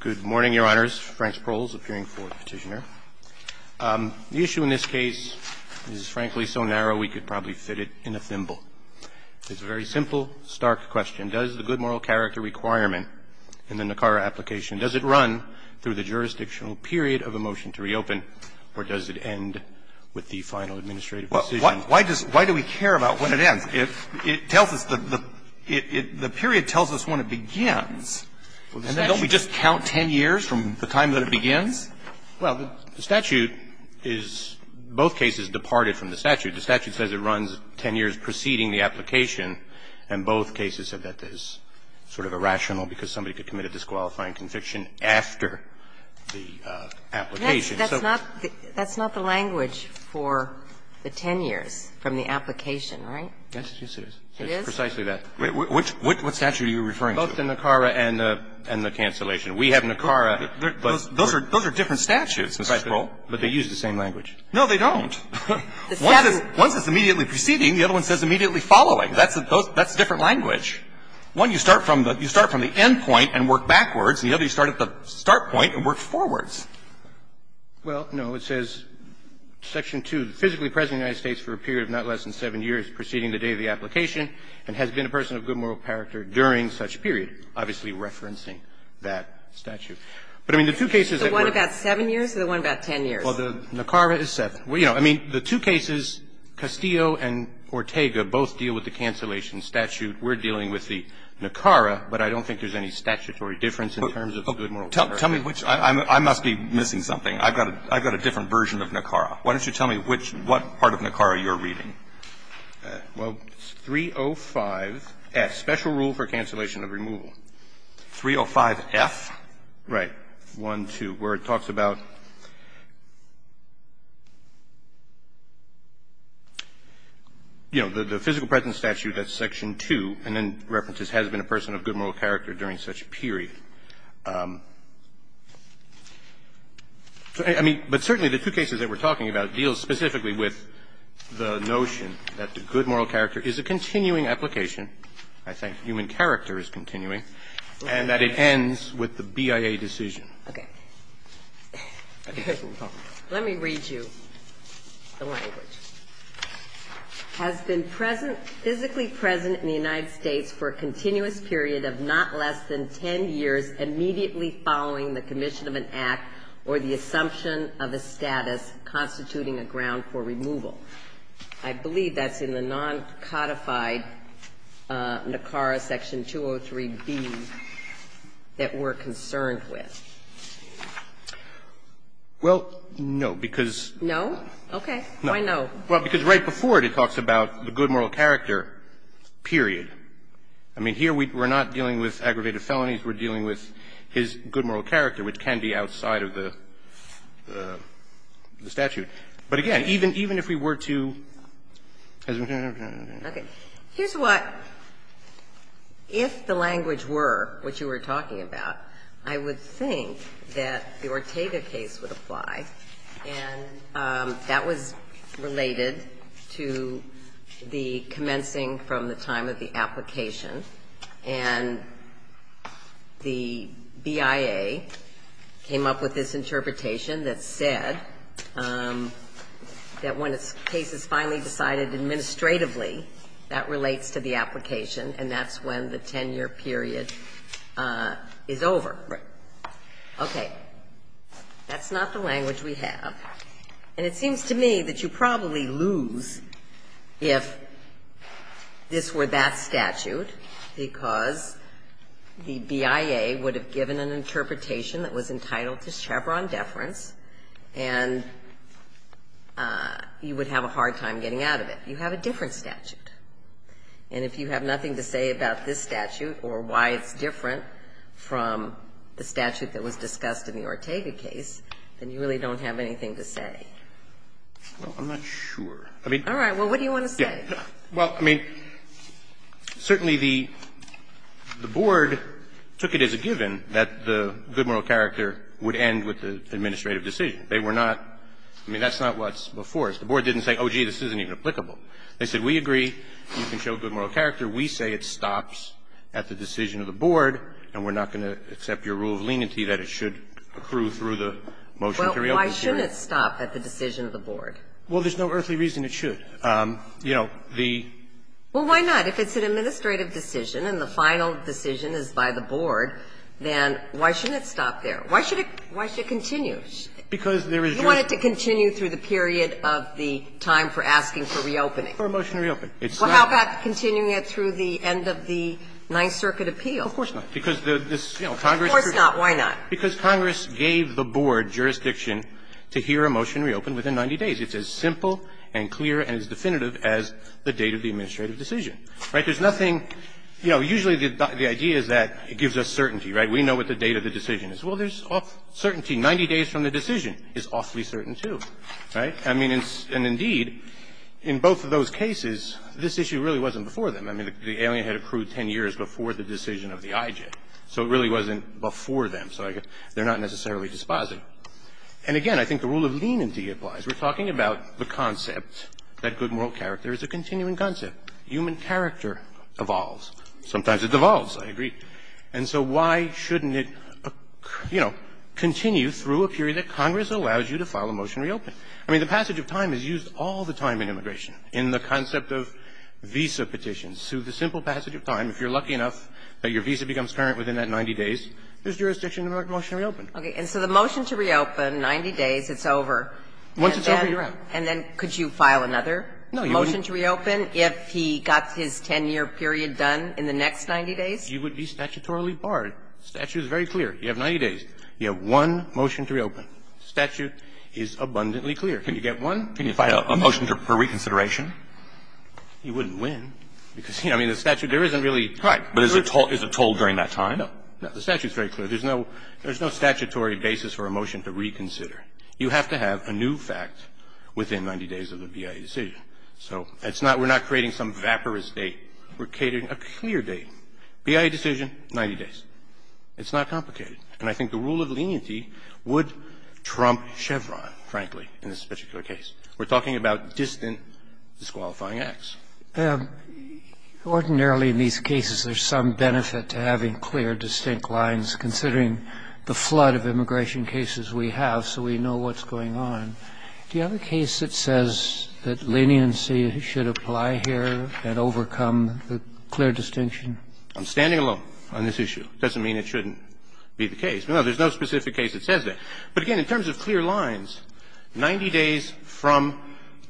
The issue in this case is, frankly, so narrow we could probably fit it in a thimble. It's a very simple, stark question. Does the good moral character requirement in the NACARA application, does it run through the jurisdictional period of a motion to reopen, or does it end with the final administrative decision? Why do we care about when it ends? If it tells us the period tells us when it begins, then don't we just count 10 years from the time that it begins? Well, the statute is, both cases departed from the statute. The statute says it runs 10 years preceding the application, and both cases said that is sort of irrational because somebody could commit a disqualifying conviction after the application. So that's not the language for the 10 years from the application, right? Yes, it is. It is? It's precisely that. Which statute are you referring to? Both the NACARA and the cancellation. We have NACARA, but we're going to use the same language. No, they don't. Once it's immediately preceding, the other one says immediately following. That's a different language. One, you start from the end point and work backwards, and the other, you start at the start point and work forwards. Well, no. It says, Section 2, physically present in the United States for a period of not less than 7 years preceding the day of the application and has been a person of good moral character during such period, obviously referencing that statute. But, I mean, the two cases that work at the same time are the NACARA and the cancellation. The one about 7 years or the one about 10 years? Well, the NACARA is 7. I mean, the two cases, Castillo and Ortega, both deal with the cancellation statute. We're dealing with the NACARA, but I don't think there's any statutory difference in terms of the good moral character. Tell me which one. I must be missing something. I've got a different version of NACARA. Why don't you tell me which part of NACARA you're reading? Well, it's 305F, special rule for cancellation of removal. 305F? Right. 1, 2, where it talks about, you know, the physical presence statute, that's Section 2, and then references has been a person of good moral character during such period. I mean, but certainly the two cases that we're talking about deal specifically with the notion that the good moral character is a continuing application. I think human character is continuing, and that it ends with the BIA decision. Okay. Let me read you the language. Has been physically present in the United States for a continuous period of not less than 10 years immediately following the commission of an act or the assumption of a status constituting a ground for removal. I believe that's in the non-codified NACARA Section 203B that we're concerned with. Well, no, because no. Okay. Why no? Well, because right before it, it talks about the good moral character period. I mean, here we're not dealing with aggravated felonies. We're dealing with his good moral character, which can be outside of the statute. But again, even if we were to as we're talking about. Okay. Here's what, if the language were what you were talking about, I would think that the Ortega case would apply, and that was related to the commencing from the time of the application. And the BIA came up with this interpretation that said that when a case is finally decided administratively, that relates to the application, and that's when the 10-year period is over. Okay. That's not the language we have. And it seems to me that you probably lose, if this were that statute, if this were the Ortega case, because the BIA would have given an interpretation that was entitled to Chevron deference, and you would have a hard time getting out of it. You have a different statute. And if you have nothing to say about this statute or why it's different from the statute that was discussed in the Ortega case, then you really don't have anything to say. Well, I'm not sure. All right. Well, what do you want to say? Well, I mean, certainly the Board took it as a given that the good moral character would end with the administrative decision. They were not – I mean, that's not what's before us. The Board didn't say, oh, gee, this isn't even applicable. They said, we agree, you can show good moral character. We say it stops at the decision of the Board, and we're not going to accept your rule of leniency that it should accrue through the motion to reopen the court. Well, why shouldn't it stop at the decision of the Board? Well, there's no earthly reason it should. You know, the – Well, why not? If it's an administrative decision and the final decision is by the Board, then why shouldn't it stop there? Why should it continue? Because there is just – You want it to continue through the period of the time for asking for reopening. For a motion to reopen. It's not – Well, how about continuing it through the end of the Ninth Circuit appeal? Of course not. Because this, you know, Congress – Of course not. Why not? Because Congress gave the Board jurisdiction to hear a motion reopen within 90 days. It's as simple and clear and as definitive as the date of the administrative decision, right? There's nothing – you know, usually the idea is that it gives us certainty, right? We know what the date of the decision is. Well, there's certainty. 90 days from the decision is awfully certain, too, right? I mean, and indeed, in both of those cases, this issue really wasn't before them. I mean, the alien had accrued 10 years before the decision of the IJ. So it really wasn't before them. So they're not necessarily dispositive. And again, I think the rule of leniency applies. We're talking about the concept that good moral character is a continuing concept. Human character evolves. Sometimes it devolves. I agree. And so why shouldn't it, you know, continue through a period that Congress allows you to file a motion to reopen? I mean, the passage of time is used all the time in immigration, in the concept of visa petitions. Through the simple passage of time, if you're lucky enough that your visa becomes current within that 90 days, there's jurisdiction to make a motion to reopen. And so the motion to reopen, 90 days, it's over. Once it's over, you're out. And then could you file another motion to reopen if he got his 10-year period done in the next 90 days? You would be statutorily barred. The statute is very clear. You have 90 days. You have one motion to reopen. The statute is abundantly clear. Can you get one? Can you file a motion for reconsideration? You wouldn't win. Because, you know, I mean, the statute, there isn't really. Right. But is it told during that time? No. The statute is very clear. There's no statutory basis for a motion to reconsider. You have to have a new fact within 90 days of the BIA decision. So it's not we're not creating some vaporous date. We're catering a clear date. BIA decision, 90 days. It's not complicated. And I think the rule of leniency would trump Chevron, frankly, in this particular case. We're talking about distant disqualifying acts. Ordinarily, in these cases, there's some benefit to having clear, distinct lines, considering the flood of immigration cases we have, so we know what's going on. Do you have a case that says that leniency should apply here and overcome the clear distinction? I'm standing alone on this issue. It doesn't mean it shouldn't be the case. No, there's no specific case that says that. But, again, in terms of clear lines, 90 days from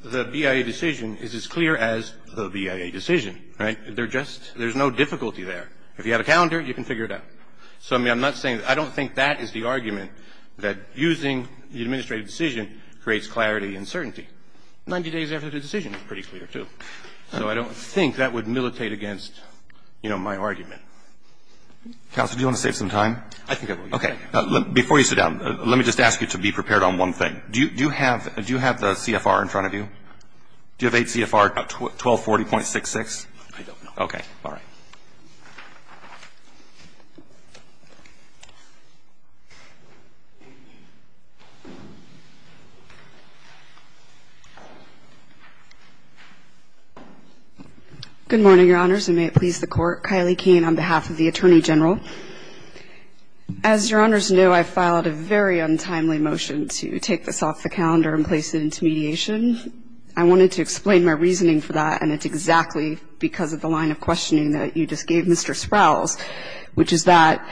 the BIA decision is as clear as the BIA decision, right? There's no difficulty there. If you have a calendar, you can figure it out. So, I mean, I'm not saying I don't think that is the argument that using the administrative decision creates clarity and certainty. 90 days after the decision is pretty clear, too. So I don't think that would militate against, you know, my argument. Counsel, do you want to save some time? I think I will. Okay. Before you sit down, let me just ask you to be prepared on one thing. Do you have the CFR in front of you? Do you have 8 CFR 1240.66? I don't know. Okay. All right. Good morning, Your Honors, and may it please the Court. Kylie Kane on behalf of the Attorney General. As Your Honors know, I filed a very untimely motion to take this off the calendar and place it into mediation. I wanted to explain my reasoning for that, and it's exactly because of the line of questioning that you just gave Mr. Sprowls, which is that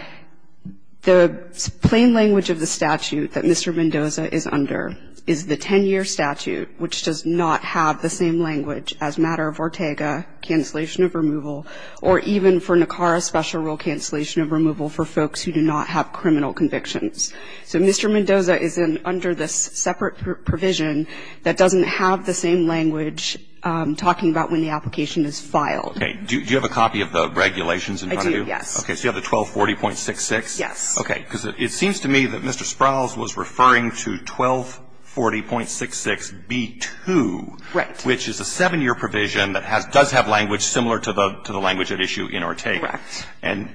the plain language of the statute that Mr. Mendoza is under is the 10-year statute, which does not have the same language as matter of Ortega, cancellation of removal, or even for NACARA special rule cancellation of removal for folks who do not have criminal convictions. So Mr. Mendoza is under this separate provision that doesn't have the same language talking about when the application is filed. Okay. Do you have a copy of the regulations in front of you? I do, yes. Okay. So you have the 1240.66? Yes. Okay. Because it seems to me that Mr. Sprowls was referring to 1240.66B2. Right. Which is a 7-year provision that does have language similar to the language at issue in Ortega. Correct. And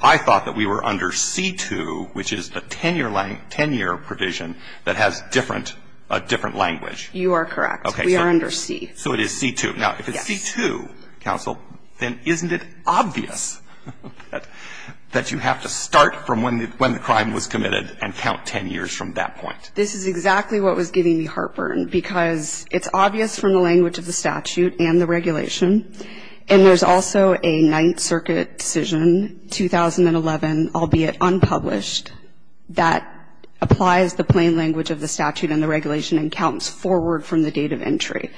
I thought that we were under C2, which is the 10-year provision that has different language. You are correct. Okay. We are under C. So it is C2. Yes. Now, if it's C2, counsel, then isn't it obvious that you have to start from when the crime was committed and count 10 years from that point? This is exactly what was giving me heartburn, because it's obvious from the language of the statute and the regulation, and there's also a Ninth Circuit decision, 2011, albeit unpublished, that applies the plain language of the statute and the regulation and counts forward from the date of entry.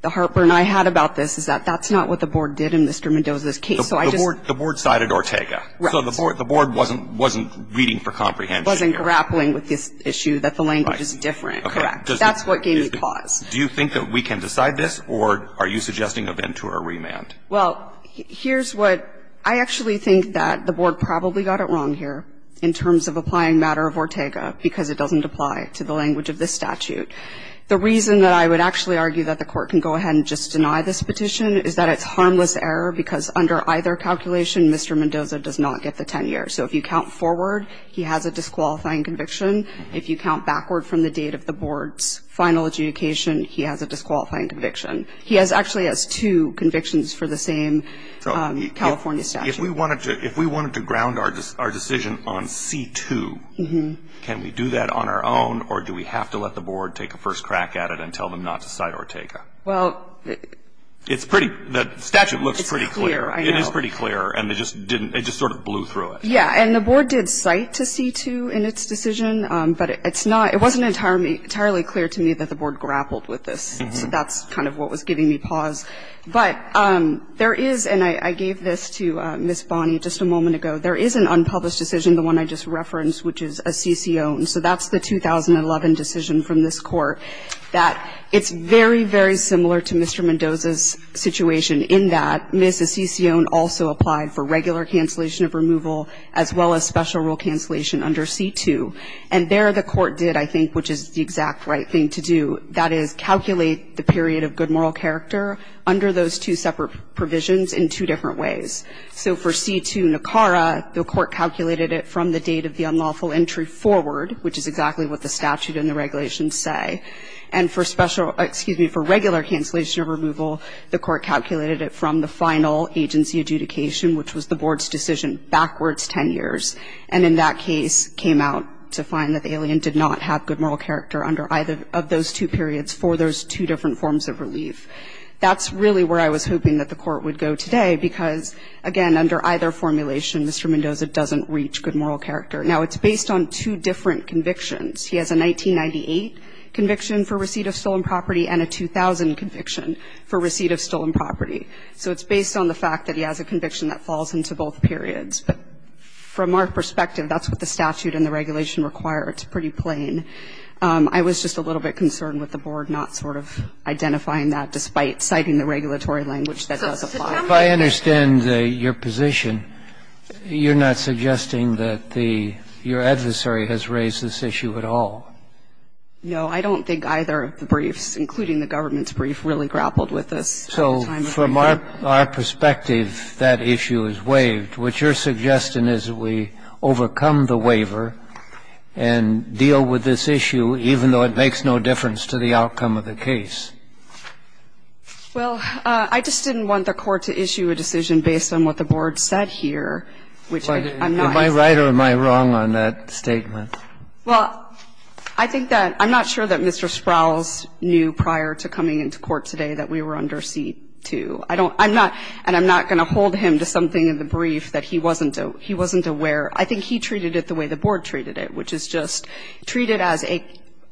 The heartburn I had about this is that that's not what the Board did in Mr. Mendoza's case. The Board sided Ortega. Right. So the Board wasn't reading for comprehension. Wasn't grappling with this issue that the language is different. Right. Correct. That's what gave me pause. Do you think that we can decide this, or are you suggesting a Ventura remand? Well, here's what – I actually think that the Board probably got it wrong here in terms of applying matter of Ortega, because it doesn't apply to the language of this statute. The reason that I would actually argue that the Court can go ahead and just deny this petition is that it's harmless error, because under either calculation, Mr. Mendoza does not get the 10 years. So if you count forward, he has a disqualifying conviction. If you count backward from the date of the Board's final adjudication, he has a disqualifying conviction. He actually has two convictions for the same California statute. If we wanted to ground our decision on C-2, can we do that on our own, or do we have to let the Board take a first crack at it and tell them not to cite Ortega? Well – It's pretty – the statute looks pretty clear. It is pretty clear, and it just sort of blew through it. Yeah, and the Board did cite to C-2 in its decision, but it's not – it wasn't entirely clear to me that the Board grappled with this. So that's kind of what was giving me pause. But there is – and I gave this to Ms. Bonney just a moment ago. There is an unpublished decision, the one I just referenced, which is Asisione. So that's the 2011 decision from this Court, that it's very, very similar to Mr. Mendoza's situation in that Ms. Asisione also applied for regular cancellation of removal, as well as special rule cancellation under C-2. And there the Court did, I think, which is the exact right thing to do, that is, calculate the period of good moral character under those two separate provisions in two different ways. So for C-2 NCARA, the Court calculated it from the date of the unlawful entry forward, which is exactly what the statute and the regulations say. And for special – excuse me, for regular cancellation of removal, the Court calculated it from the final agency adjudication, which was the Board's decision backwards 10 years. And in that case, came out to find that the alien did not have good moral character under either of those two periods for those two different forms of relief. That's really where I was hoping that the Court would go today, because, again, under either formulation, Mr. Mendoza doesn't reach good moral character. Now, it's based on two different convictions. He has a 1998 conviction for receipt of stolen property and a 2000 conviction for receipt of stolen property. So it's based on the fact that he has a conviction that falls into both periods. But from our perspective, that's what the statute and the regulation require. It's pretty plain. I was just a little bit concerned with the Board not sort of identifying that, despite citing the regulatory language that does apply. If I understand your position, you're not suggesting that the – your adversary has raised this issue at all? No. I don't think either of the briefs, including the government's brief, So from our perspective, that issue is waived. What you're suggesting is that we overcome the waiver and deal with this issue even though it makes no difference to the outcome of the case. Well, I just didn't want the Court to issue a decision based on what the Board said here, which I'm not – Am I right or am I wrong on that statement? Well, I think that – I'm not sure that Mr. Sprowls knew prior to coming into court today that we were under seat 2. I don't – I'm not – and I'm not going to hold him to something in the brief that he wasn't aware. I think he treated it the way the Board treated it, which is just treat it as an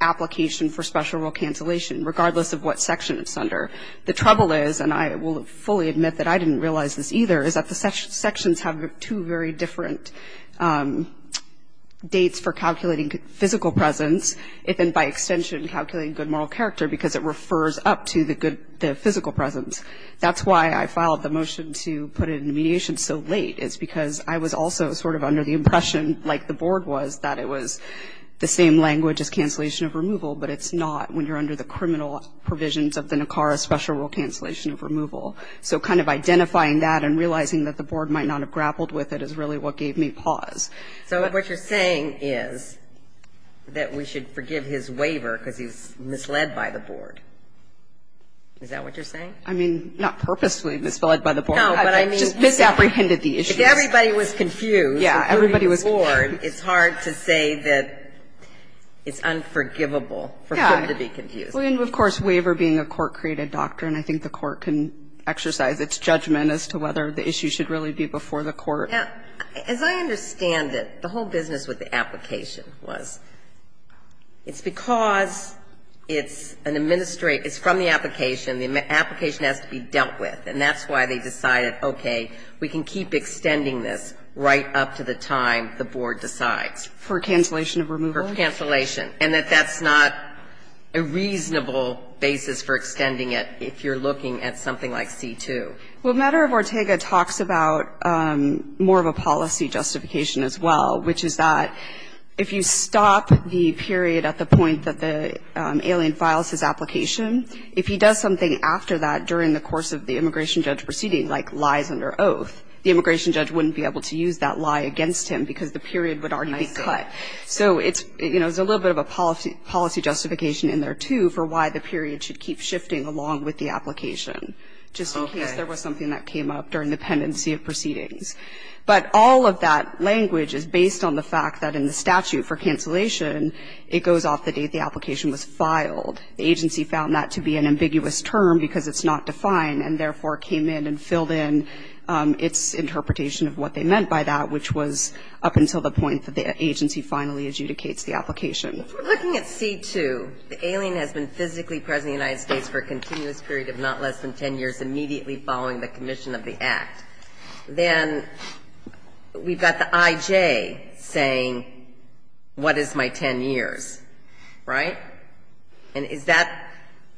application for special rule cancellation, regardless of what section it's under. The trouble is, and I will fully admit that I didn't realize this either, is that the sections have two very different dates for calculating physical presence, and then by extension calculating good moral character because it refers up to the physical presence. That's why I filed the motion to put it into mediation so late, is because I was also sort of under the impression, like the Board was, that it was the same language as cancellation of removal, but it's not when you're under the criminal provisions of the NACARA special rule cancellation of removal. So kind of identifying that and realizing that the Board might not have grappled with it is really what gave me pause. So what you're saying is that we should forgive his waiver because he was misled by the Board. Is that what you're saying? I mean, not purposely misled by the Board. No, but I mean. Just misapprehended the issue. If everybody was confused, including the Board, it's hard to say that it's unforgivable for him to be confused. And, of course, waiver being a court-created doctrine, I think the court can exercise its judgment as to whether the issue should really be before the court. Now, as I understand it, the whole business with the application was it's because it's an administrative, it's from the application. The application has to be dealt with. And that's why they decided, okay, we can keep extending this right up to the time the Board decides. For cancellation of removal? For cancellation. And that that's not a reasonable basis for extending it if you're looking at something like C-2. Well, Matter of Ortega talks about more of a policy justification as well, which is that if you stop the period at the point that the alien files his application, if he does something after that during the course of the immigration judge proceeding, like lies under oath, the immigration judge wouldn't be able to use that lie against him because the period would already be cut. I see. So it's, you know, there's a little bit of a policy justification in there, too, for why the period should keep shifting along with the application. Okay. Just in case there was something that came up during the pendency of proceedings. But all of that language is based on the fact that in the statute for cancellation, it goes off the date the application was filed. The agency found that to be an ambiguous term because it's not defined and therefore came in and filled in its interpretation of what they meant by that, which was up until the point that the agency finally adjudicates the application. If we're looking at C-2, the alien has been physically present in the United States for a continuous period of not less than 10 years, immediately following the commission of the act. Then we've got the I-J saying, what is my 10 years? Right? And is that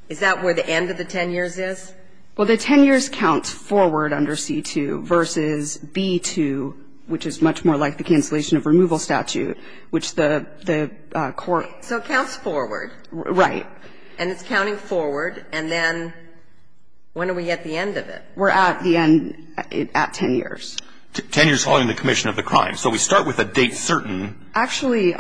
where the end of the 10 years is? Well, the 10 years counts forward under C-2 versus B-2, which is much more like the cancellation of removal statute, which the court. So it counts forward. Right. And it's counting forward. And then when are we at the end of it? We're at the end. At 10 years. 10 years following the commission of the crime. So we start with a date certain. Actually,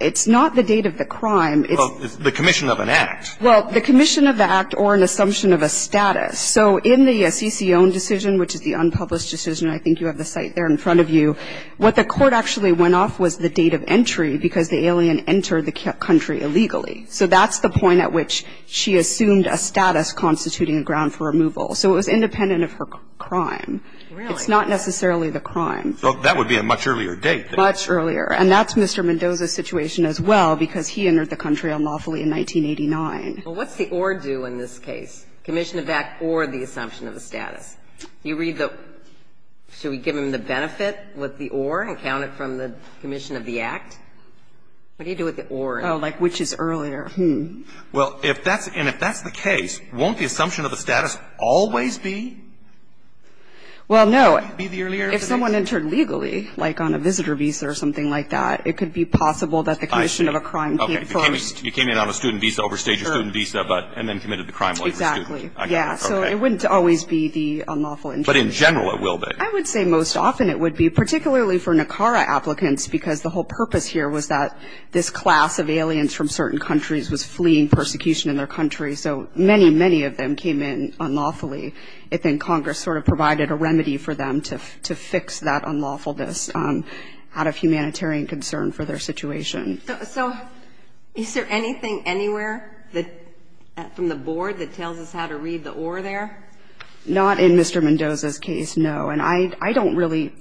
it's not the date of the crime. Well, it's the commission of an act. Well, the commission of the act or an assumption of a status. So in the Assisi-Ohn decision, which is the unpublished decision, I think you have the site there in front of you, what the court actually went off was the date of entry because the alien entered the country illegally. So that's the point at which she assumed a status constituting a ground for removal. So it was independent of her crime. Really? It's not necessarily the crime. So that would be a much earlier date. Much earlier. And that's Mr. Mendoza's situation as well because he entered the country unlawfully in 1989. Well, what's the or do in this case, commission of act or the assumption of a status? You read the – should we give him the benefit with the or and count it from the commission of the act? What do you do with the or? Oh, like which is earlier. Hmm. Well, if that's – and if that's the case, won't the assumption of the status always be? Well, no. Be the earlier? If someone entered legally, like on a visitor visa or something like that, it could be possible that the commission of a crime came first. Okay. You came in on a student visa, overstayed your student visa, but – and then committed the crime like a student. Exactly. Yeah. Okay. So it wouldn't always be the unlawful entry. But in general it will be. I would say most often it would be, particularly for NACARA applicants because the whole purpose here was that this class of aliens from certain countries was fleeing persecution in their country. So many, many of them came in unlawfully. And then Congress sort of provided a remedy for them to fix that unlawfulness out of humanitarian concern for their situation. So is there anything anywhere that – from the board that tells us how to read the or there? Not in Mr. Mendoza's case, no. And I don't really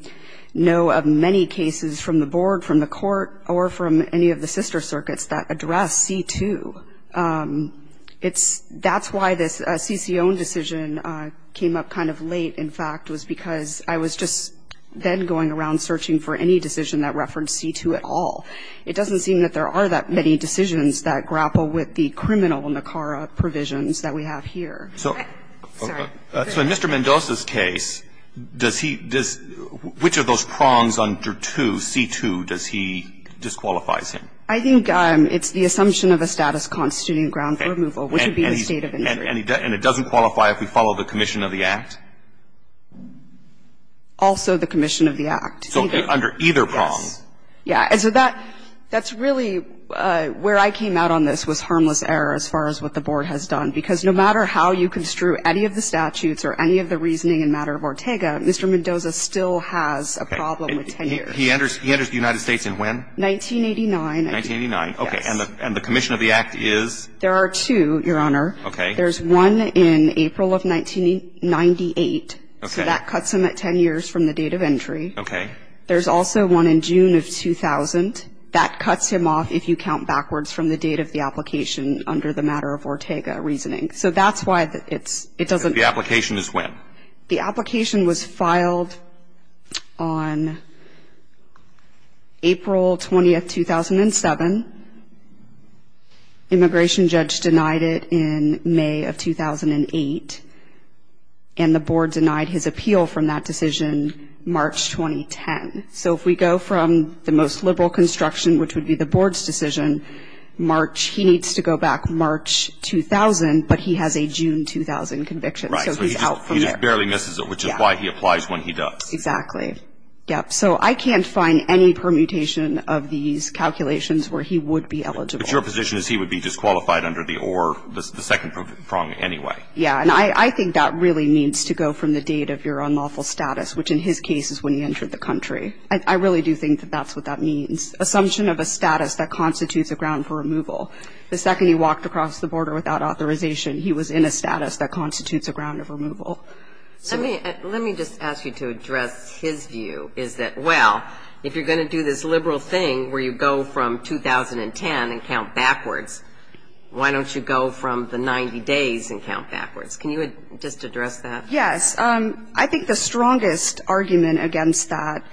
know of many cases from the board, from the court, or from any of the sister circuits that address C2. It's – that's why this CCO decision came up kind of late, in fact, was because I was just then going around searching for any decision that referenced C2 at all. It doesn't seem that there are that many decisions that grapple with the criminal NACARA provisions that we have here. Okay. Sorry. So in Mr. Mendoza's case, does he – does – which of those prongs under 2, C2, does he – disqualifies him? I think it's the assumption of a status constituting a ground for removal, which would be a state of injury. And it doesn't qualify if we follow the commission of the act? Also the commission of the act. So under either prong. Yes. Yeah. And so that – that's really where I came out on this was harmless error as far as what the board has done. Because no matter how you construe any of the statutes or any of the reasoning in matter of Ortega, Mr. Mendoza still has a problem with tenure. Okay. He enters the United States in when? 1989. 1989. Yes. Okay. And the commission of the act is? There are two, Your Honor. Okay. There's one in April of 1998. Okay. So that cuts him at 10 years from the date of entry. Okay. There's also one in June of 2000. That cuts him off if you count backwards from the date of the application under the matter of Ortega reasoning. So that's why it's – it doesn't – The application is when? The application was filed on April 20, 2007. Immigration judge denied it in May of 2008. And the board denied his appeal from that decision March 2010. So if we go from the most liberal construction, which would be the board's decision, March – he needs to go back March 2000, but he has a June 2000 conviction. Right. So he's out from there. He just barely misses it, which is why he applies when he does. Exactly. Yep. So I can't find any permutation of these calculations where he would be eligible. But your position is he would be disqualified under the – or the second prong anyway. Yeah. And I think that really needs to go from the date of your unlawful status, which in his case is when he entered the country. I really do think that that's what that means. Assumption of a status that constitutes a ground for removal. The second he walked across the border without authorization, he was in a status that constitutes a ground of removal. Let me – let me just ask you to address his view, is that, well, if you're going to do this liberal thing where you go from 2010 and count backwards, why don't you go from the 90 days and count backwards? Can you just address that? Yes. I think the strongest argument against that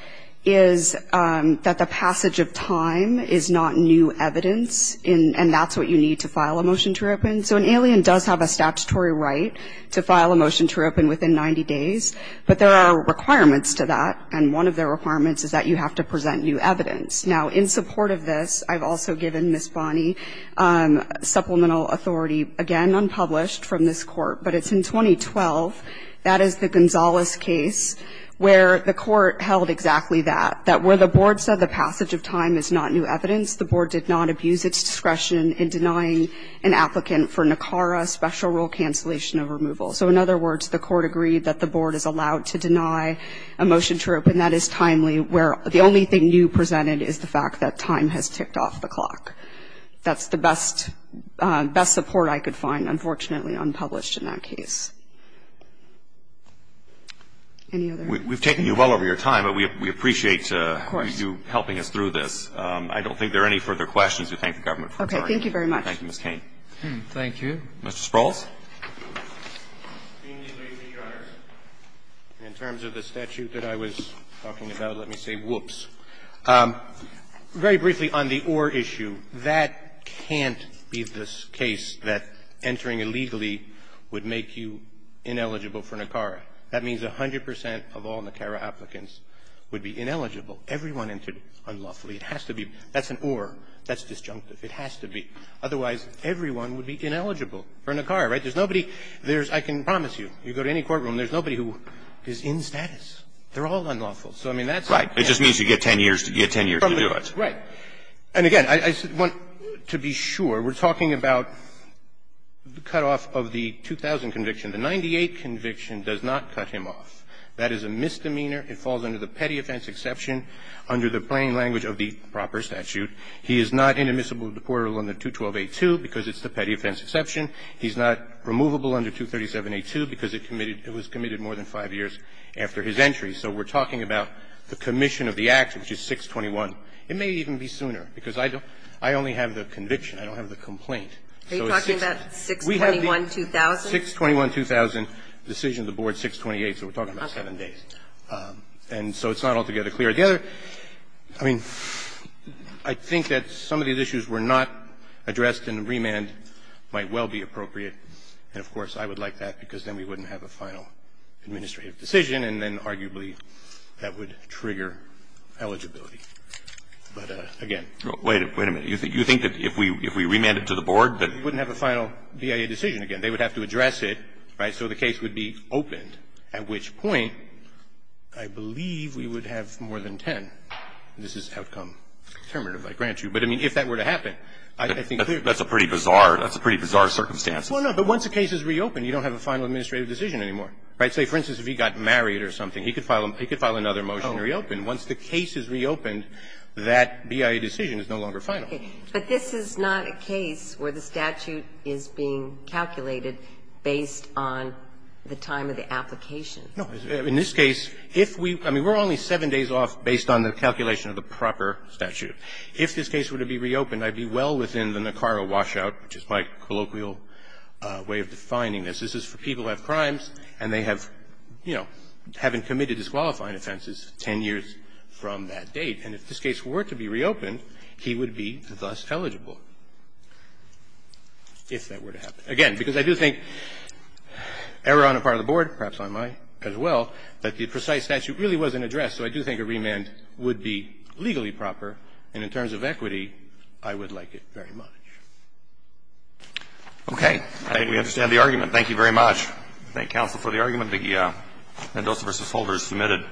is that the passage of time is not new evidence, and that's what you need to file a motion to reopen. So an alien does have a statutory right to remain in the United States and a statutory right to file a motion to reopen within 90 days, but there are requirements to that, and one of the requirements is that you have to present new evidence. Now, in support of this, I've also given Ms. Bonney supplemental authority, again, unpublished from this Court, but it's in 2012. That is the Gonzales case where the Court held exactly that, that where the Board said the passage of time is not new evidence, the Board did not abuse its discretion in denying an applicant for NACARA special rule cancellation of removal. So in other words, the Court agreed that the Board is allowed to deny a motion to reopen, and that is timely where the only thing new presented is the fact that time has ticked off the clock. That's the best support I could find, unfortunately, unpublished in that case. Any other? We've taken you well over your time, but we appreciate you helping us through this. Of course. I don't think there are any further questions. We thank the Government for this argument. Thank you very much. Thank you, Ms. Cain. Thank you. Mr. Sprouls. Thank you, ladies and gentlemen. In terms of the statute that I was talking about, let me say whoops. Very briefly on the or issue, that can't be the case that entering illegally would make you ineligible for NACARA. That means 100 percent of all NACARA applicants would be ineligible. Everyone entered unlawfully. It has to be. That's an or. That's disjunctive. It has to be. Otherwise, everyone would be ineligible for NACARA, right? There's nobody. I can promise you, you go to any courtroom, there's nobody who is in status. They're all unlawful. Right. It just means you get ten years to do it. Right. And again, I want to be sure. We're talking about the cutoff of the 2000 conviction. The 98 conviction does not cut him off. That is a misdemeanor. It falls under the petty offense exception under the plain language of the proper statute. He is not inadmissible or deportable under 212A2 because it's the petty offense exception. He's not removable under 237A2 because it was committed more than five years after his entry. So we're talking about the commission of the act, which is 621. It may even be sooner because I only have the conviction. I don't have the complaint. Are you talking about 621-2000? 621-2000, decision of the board, 628, so we're talking about seven days. And so it's not altogether clear. The other, I mean, I think that some of these issues were not addressed and remand might well be appropriate. And, of course, I would like that because then we wouldn't have a final administrative decision and then arguably that would trigger eligibility. But, again. Wait a minute. You think that if we remand it to the board that we wouldn't have a final BIA decision again. They would have to address it, right, so the case would be opened, at which point I believe we would have more than 10. This is outcome determinative, I grant you. But, I mean, if that were to happen, I think clearly. That's a pretty bizarre circumstance. Well, no, but once the case is reopened, you don't have a final administrative decision anymore. Right? Say, for instance, if he got married or something, he could file another motion to reopen. Once the case is reopened, that BIA decision is no longer final. Okay. But this is not a case where the statute is being calculated based on the time of the application. No. In this case, if we, I mean, we're only seven days off based on the calculation of the proper statute. If this case were to be reopened, I'd be well within the NACARA washout, which is my colloquial way of defining this. This is for people who have crimes and they have, you know, haven't committed disqualifying offenses 10 years from that date. And if this case were to be reopened, he would be thus eligible, if that were to happen. Again, because I do think, error on the part of the Board, perhaps on mine as well, that the precise statute really wasn't addressed. So I do think a remand would be legally proper. And in terms of equity, I would like it very much. Okay. I think we understand the argument. Thank you very much. Thank you, counsel, for the argument. The Mendoza v. Holder is submitted.